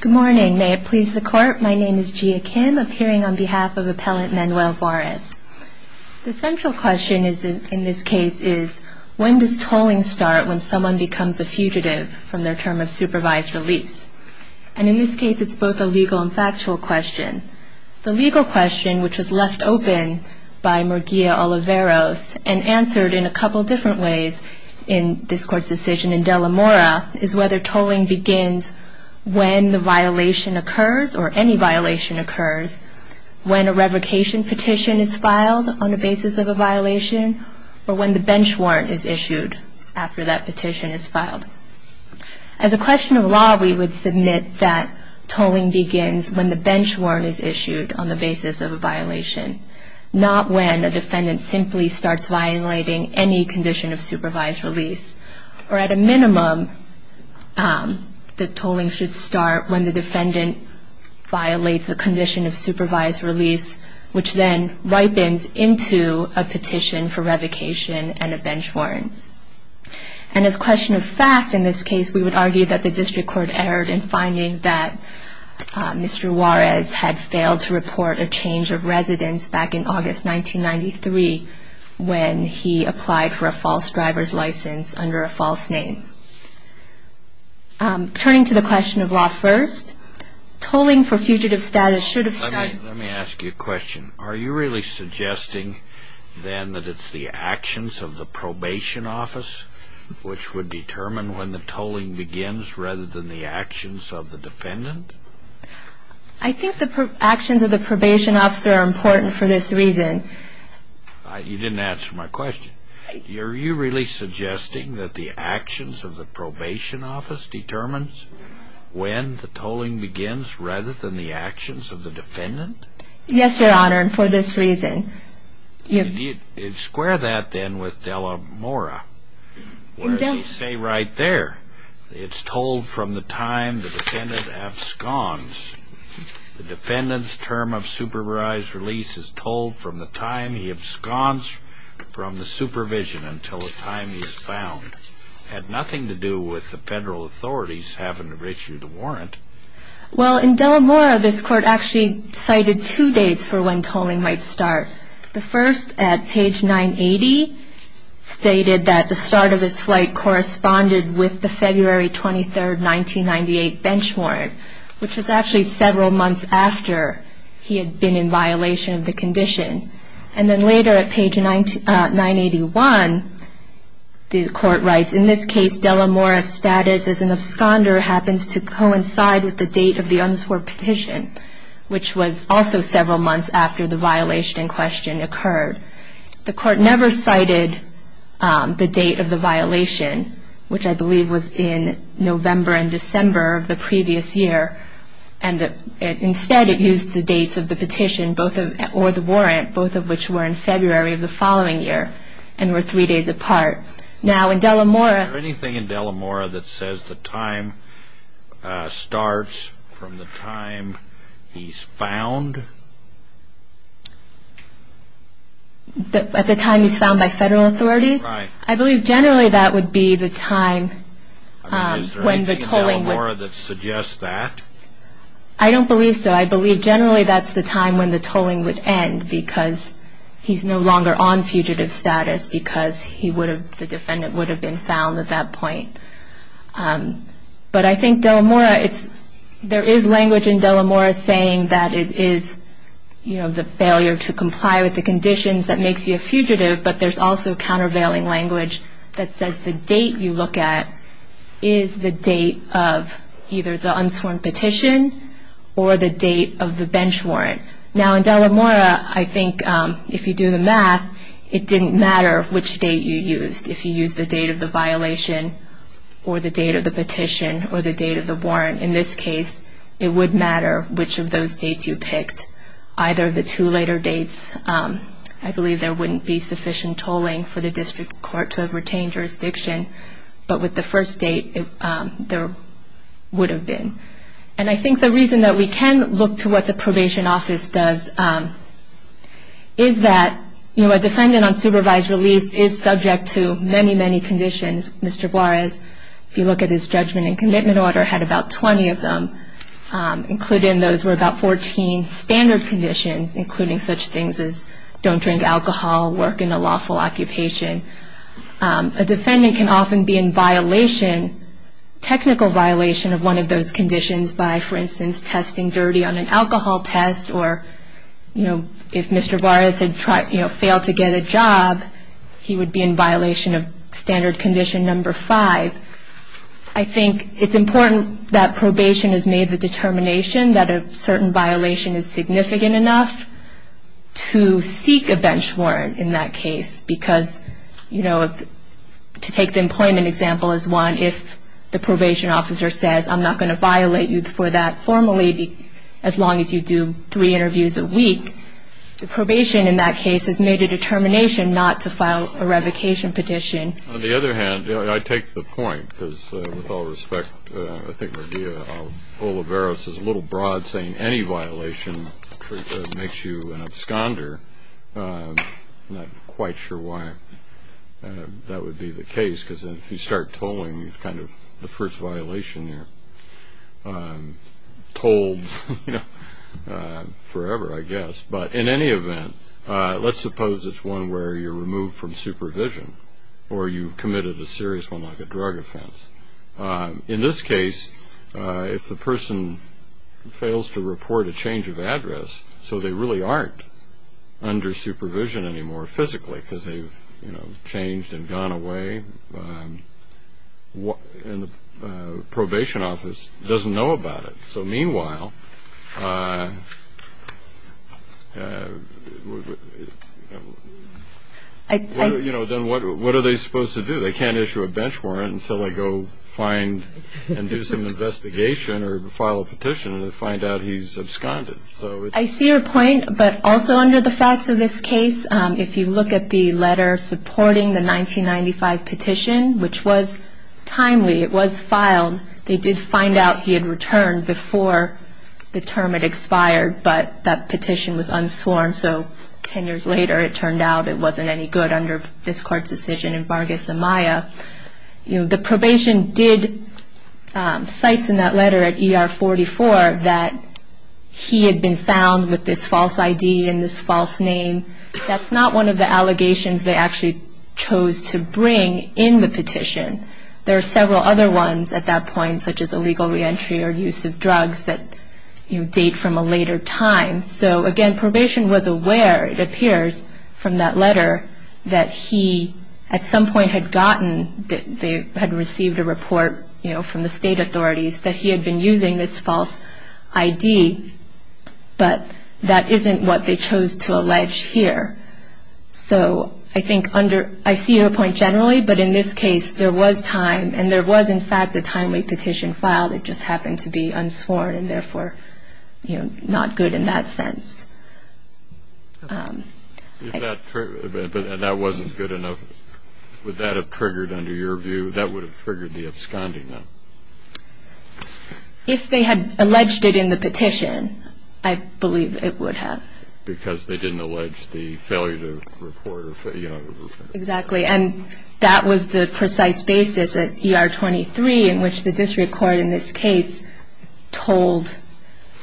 Good morning. May it please the court, my name is Gia Kim, appearing on behalf of appellant Manuel Juarez. The central question in this case is, when does tolling start when someone becomes a fugitive from their term of supervised release? And in this case it's both a legal and factual question. The legal question, which was left open by Murguia Oliveros and answered in a couple different ways in this court's decision in Delamora, is whether tolling begins when the violation occurs, or any violation occurs, when a revocation petition is filed on the basis of a violation, or when the bench warrant is issued after that petition is filed. As a question of law, we would submit that tolling begins when the bench warrant is issued on the basis of a violation, not when a defendant simply starts violating any condition of supervised release, or at a minimum, that tolling should start when the defendant violates a condition of supervised release, which then ripens into a petition for revocation and a bench warrant. And as a question of fact in this case, we would argue that the district court erred in finding that Mr. Juarez had failed to report a change of residence back in August 1993, when he applied for a false driver's license under a false name. Turning to the question of law first, tolling for fugitive status should have started... Let me ask you a question. Are you really suggesting, then, that it's the actions of the probation office which would determine when the tolling begins, rather than the actions of the defendant? I think the actions of the probation officer are important for this reason. You didn't answer my question. Are you really suggesting that the actions of the probation office determines when the tolling begins, rather than the actions of the defendant? Yes, Your Honor, and for this reason. Square that, then, with Delamora, where they say right there, it's tolled from the time the defendant absconds. The defendant's term of supervised release is tolled from the time he absconds from the supervision until the time he's found. Had nothing to do with the federal authorities having to issue the warrant. Well, in Delamora, this court actually cited two dates for when tolling might start. The first, at page 980, stated that the start of his flight corresponded with the February 23rd, 1998, bench warrant, which was actually several months after he had been in violation of the condition. And then later, at page 981, the court writes, in this case, Delamora's status as an absconder happens to coincide with the date of the unsworn petition, which was also several months after the violation in question occurred. The court never cited the date of the violation, which I mentioned, in December of the previous year. Instead, it used the dates of the petition, or the warrant, both of which were in February of the following year, and were three days apart. Now, in Delamora... Is there anything in Delamora that says the time starts from the time he's found? At the time he's found by federal authorities? Right. I believe, generally, that would be the time when the tolling would... I mean, is there anything in Delamora that suggests that? I don't believe so. I believe, generally, that's the time when the tolling would end, because he's no longer on fugitive status, because he would have, the defendant would have been found at that point. But I think Delamora, it's, there is language in Delamora saying that it is, you know, the failure to comply with the conditions that makes you a fugitive, but there's also countervailing language that says the date you look at is the date of either the unsworn petition, or the date of the bench warrant. Now, in Delamora, I think, if you do the math, it didn't matter which date you used. If you used the date of the violation, or the date of the petition, or the date of the warrant. In this case, it would matter which of those dates you picked. Either of the two later dates, I believe there wouldn't be sufficient tolling for the district court to have retained jurisdiction. But with the first date, there would have been. And I think the reason that we can look to what the probation office does, is that, you know, a defendant on supervised release is subject to many, many conditions. Mr. Juarez, if you look at his judgment and commitment order, had about 20 of them. Included in those were about 14 standard conditions, including such things as don't drink alcohol, work in a lawful occupation. A defendant can often be in violation, technical violation of one of those conditions by, for instance, testing dirty on an alcohol test, or, you know, if Mr. Juarez had, you know, failed to get a job, he would be in violation of that condition. So, I think that probation has made the determination that a certain violation is significant enough to seek a bench warrant in that case. Because, you know, to take the employment example as one, if the probation officer says, I'm not going to violate you for that formally, as long as you do three interviews a week, the probation in that case has made a determination not to file a revocation petition. On the other hand, I take the point, because with all respect, I think Maria Olivares is a little broad saying any violation makes you an absconder. I'm not quite sure why that would be the case, because if you start tolling, you kind of, the first violation, you're told, you know, forever, I guess. But in any event, let's suppose it's one where you're removed from supervision, or you've committed a drug offense. In this case, if the person fails to report a change of address, so they really aren't under supervision anymore physically, because they've, you know, changed and gone away, and the probation office doesn't know about it. So, meanwhile, you know, then what are they supposed to do? They can't issue a bench warrant until they go find and do some investigation or file a petition to find out he's absconded. So it's... I see your point, but also under the facts of this case, if you look at the letter supporting the 1995 petition, which was timely, it was filed, they did find out he had returned before the term had expired, but that petition was unsworn. So ten years later, it turned out it wasn't any good under this Court's decision in Vargas and Maya. You know, the probation did...cites in that letter at ER 44 that he had been found with this false ID and this false name. That's not one of the allegations they actually chose to bring in the petition. There are several other ones at that point, such as illegal reentry or use of drugs that, you know, date from a later time. So, again, probation was aware, it appears, from that letter that he, at some point, had gotten...that they had received a report, you know, from the state authorities that he had been using this false ID, but that isn't what they chose to allege here. So I think under...I see your point generally, but in this case, there was time and there was, in fact, a timely petition filed. It just happened to be unsworn and, therefore, you know, not good in that sense. If that...and that wasn't good enough, would that have triggered, under your view, that would have triggered the absconding then? If they had alleged it in the petition, I believe it would have. Because they didn't allege the failure to report or, you know... Exactly. And that was the precise basis at ER 23 in which the district court, in this case, told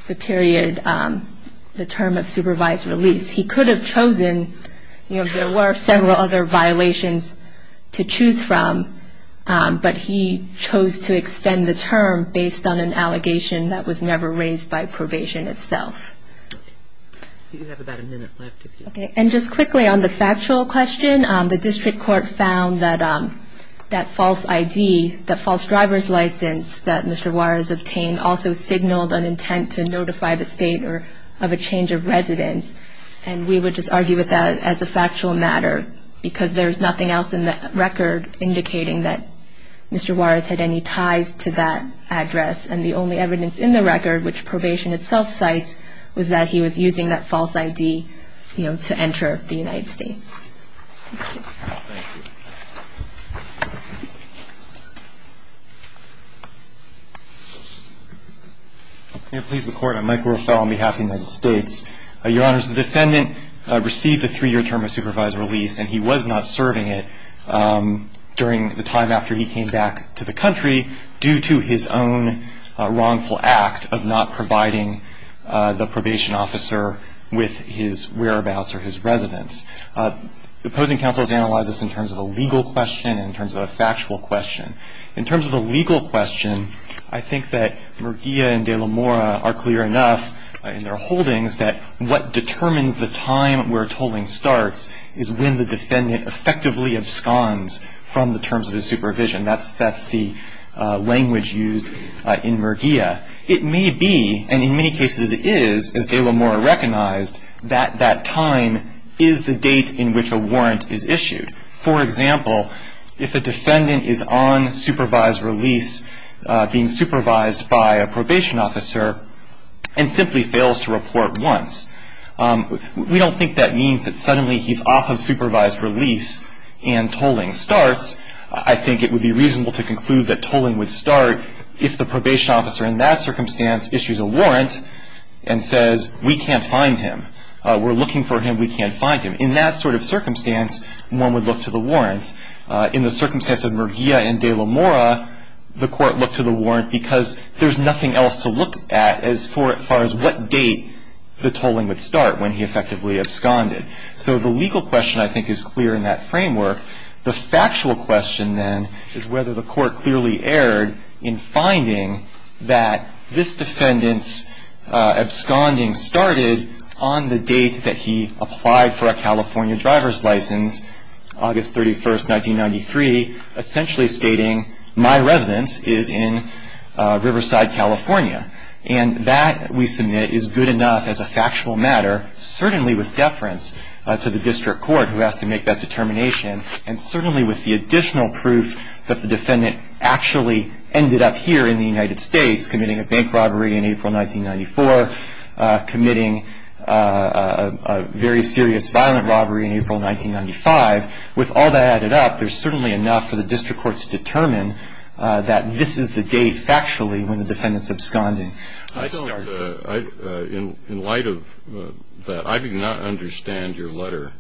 the period...the term of supervised release. He could have chosen...you know, there were several other violations to choose from, but he chose to extend the term based on an allegation that was never raised by probation itself. Do you have about a minute left? Okay. And just quickly on the factual question, the district court found that false ID, that false driver's license that Mr. Juarez obtained also signaled an intent to notify the state of a change of residence. And we would just argue with that as a factual matter, because there's nothing else in the record indicating that Mr. Juarez had any ties to that address. And the only evidence in the record, which probation itself cites, was that he was using that false ID, you know, to enter the United States. May it please the Court, I'm Mike Ruffalo on behalf of the United States. Your Honors, the defendant received a three-year term of supervised release and he was not serving it during the time after he came back to the country due to his own wrongful act of not providing the probation officer with his probation. The opposing counsel has analyzed this in terms of a legal question and in terms of a factual question. In terms of a legal question, I think that Murguia and de la Mora are clear enough in their holdings that what determines the time where tolling starts is when the defendant effectively absconds from the terms of his supervision. That's the language used in Murguia. It may be, and in many cases it is, as de la Mora recognized, that that time is the date in which a warrant is issued. For example, if a defendant is on supervised release, being supervised by a probation officer, and simply fails to report once, we don't think that means that suddenly he's off of supervised release and tolling starts. I think it would be reasonable to conclude that tolling would start if the probation officer in that circumstance issues a warrant and says, we can't find him, we're looking for him, we can't find him. In that sort of circumstance, one would look to the warrant. In the circumstance of Murguia and de la Mora, the court looked to the warrant because there's nothing else to look at as far as what date the tolling would start when he effectively absconded. So the legal question, I think, is clear in that framework. The factual question, then, is whether the court clearly erred in finding that this license, August 31st, 1993, essentially stating my residence is in Riverside, California. And that, we submit, is good enough as a factual matter, certainly with deference to the district court who has to make that determination, and certainly with the additional proof that the defendant actually ended up here in the United States committing a bank robbery in April 1994, committing a very serious violent robbery in April 1995. With all that added up, there's certainly enough for the district court to determine that this is the date, factually, when the defendant's absconding. I don't, in light of that, I do not understand your letter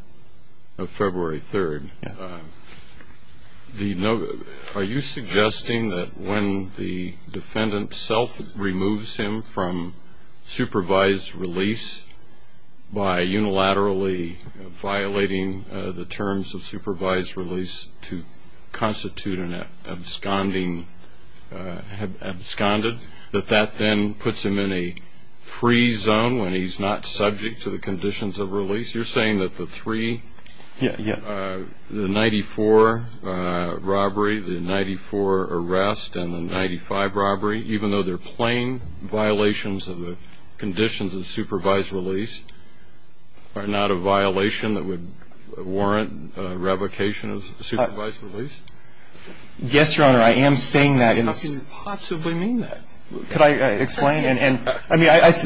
of February 3rd. Yeah. The, are you suggesting that when the defendant self-removes him from supervised release by unilaterally violating the terms of supervised release to constitute an absconding, absconded, that that then puts him in a free zone when he's not subject to the conditions of release? You're saying that the three? Yeah, yeah. The 94 robbery, the 94 arrest, and the 95 robbery, even though they're plain violations of the conditions of supervised release, are not a violation that would warrant a revocation of supervised release? Yes, Your Honor, I am saying that. How can you possibly mean that? Could I explain? And, I mean, I, this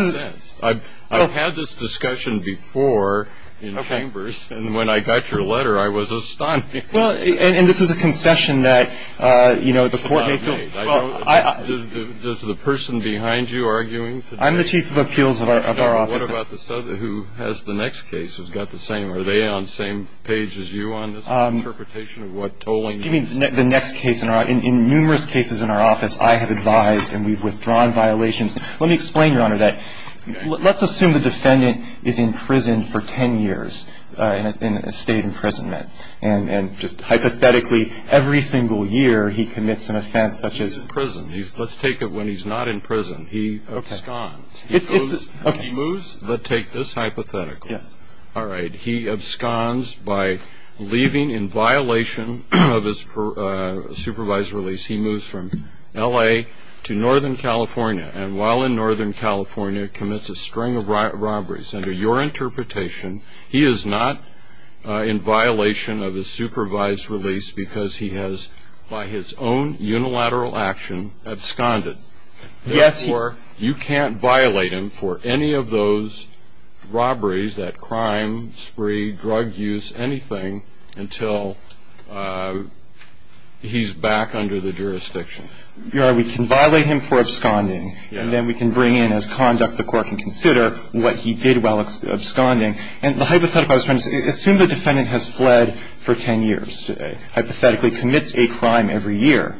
is... I'm obsessed. I've had this discussion before in chambers, and when I got your letter, I was astounded. Well, and this is a concession that, you know, the court may feel... Does the person behind you arguing today... I'm the Chief of Appeals of our office. What about the, who has the next case, who's got the same, are they on the same page as you on this interpretation of what tolling means? You mean the next case in our, in numerous cases in our office, I have advised and we've withdrawn violations. Let me explain, Your Honor, that let's assume the defendant is in prison for 10 years in a state imprisonment, and just hypothetically every single year he commits an offense such as... In prison, let's take it when he's not in prison, he absconds. He moves, but take this hypothetically. Yes. All right, he absconds by leaving in violation of his supervised release. He moves from L.A. to Northern California, and while in Northern California commits a string of robberies. Under your interpretation, he is not in violation of his supervised release because he has, by his own unilateral action, absconded. Therefore, you can't violate him for any of those robberies, that crime, spree, drug use, anything, until he's back under the jurisdiction. Your Honor, we can violate him for absconding, and then we can bring in as conduct the court can consider what he did while absconding. Hypothetically, assume the defendant has fled for 10 years, hypothetically commits a crime every year.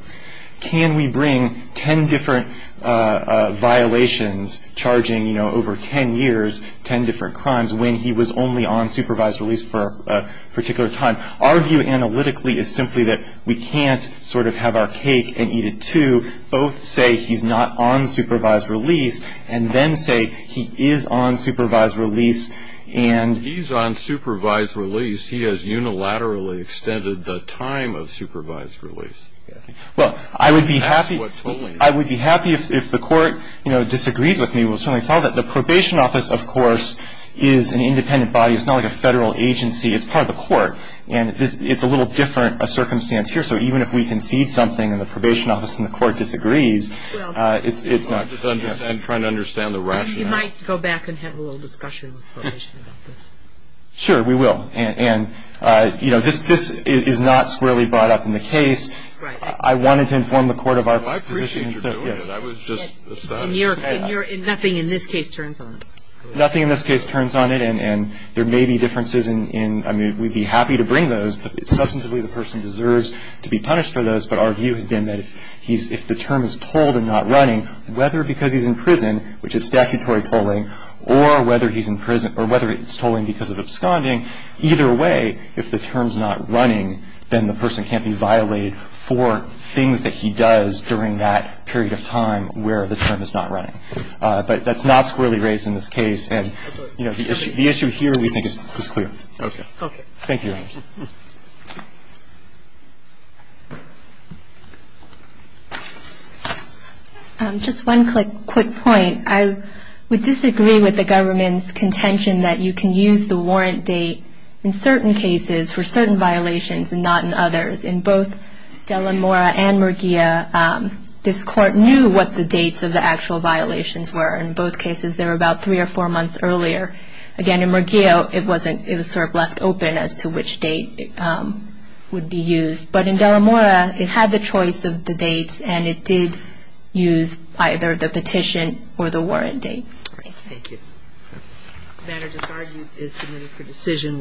Can we bring 10 different violations, charging over 10 years, 10 different crimes, when he was only on supervised release for a particular time? Our view analytically is simply that we can't have our cake and eat it too, both say he's not on supervised release, and then say he is on supervised release, and... He's on supervised release. He has unilaterally extended the time of supervised release. Well, I would be happy if the court disagrees with me. We'll certainly follow that. The probation office, of course, is an independent body. It's not like a federal agency. It's part of the court, and it's a little different a circumstance here. So even if we concede something in the probation office and the court disagrees, it's not... I'm trying to understand the rationale. You might go back and have a little discussion with the probation office. Sure, we will. And, you know, this is not squarely brought up in the case. Right. I wanted to inform the court of our position. Well, I appreciate your doing it. I was just... And nothing in this case turns on it. Nothing in this case turns on it, and there may be differences in... I mean, we'd be happy to bring those. Substantively, the person deserves to be punished for those, but our view has been that if the term is told and not running, whether because he's in prison, which is statutory tolling, or whether he's in prison or whether it's tolling because of absconding, either way, if the term's not running, then the person can't be violated for things that he does during that period of time where the term is not running. But that's not squarely raised in this case, and, you know, the issue here we think is clear. Okay. Okay. Thank you, Your Honors. Just one quick point. I would disagree with the government's contention that you can use the warrant date in certain cases for certain violations and not in others. In both Dela Mora and Murguia, this court knew what the dates of the actual violations were. In both cases, they were about three or four months earlier. Again, in Murguia, it was sort of left open as to which dates the actual violations were. But in Dela Mora, it had the choice of the dates and it did use either the petition or the warrant date. All right. Thank you. The matter just argued is submitted for decision.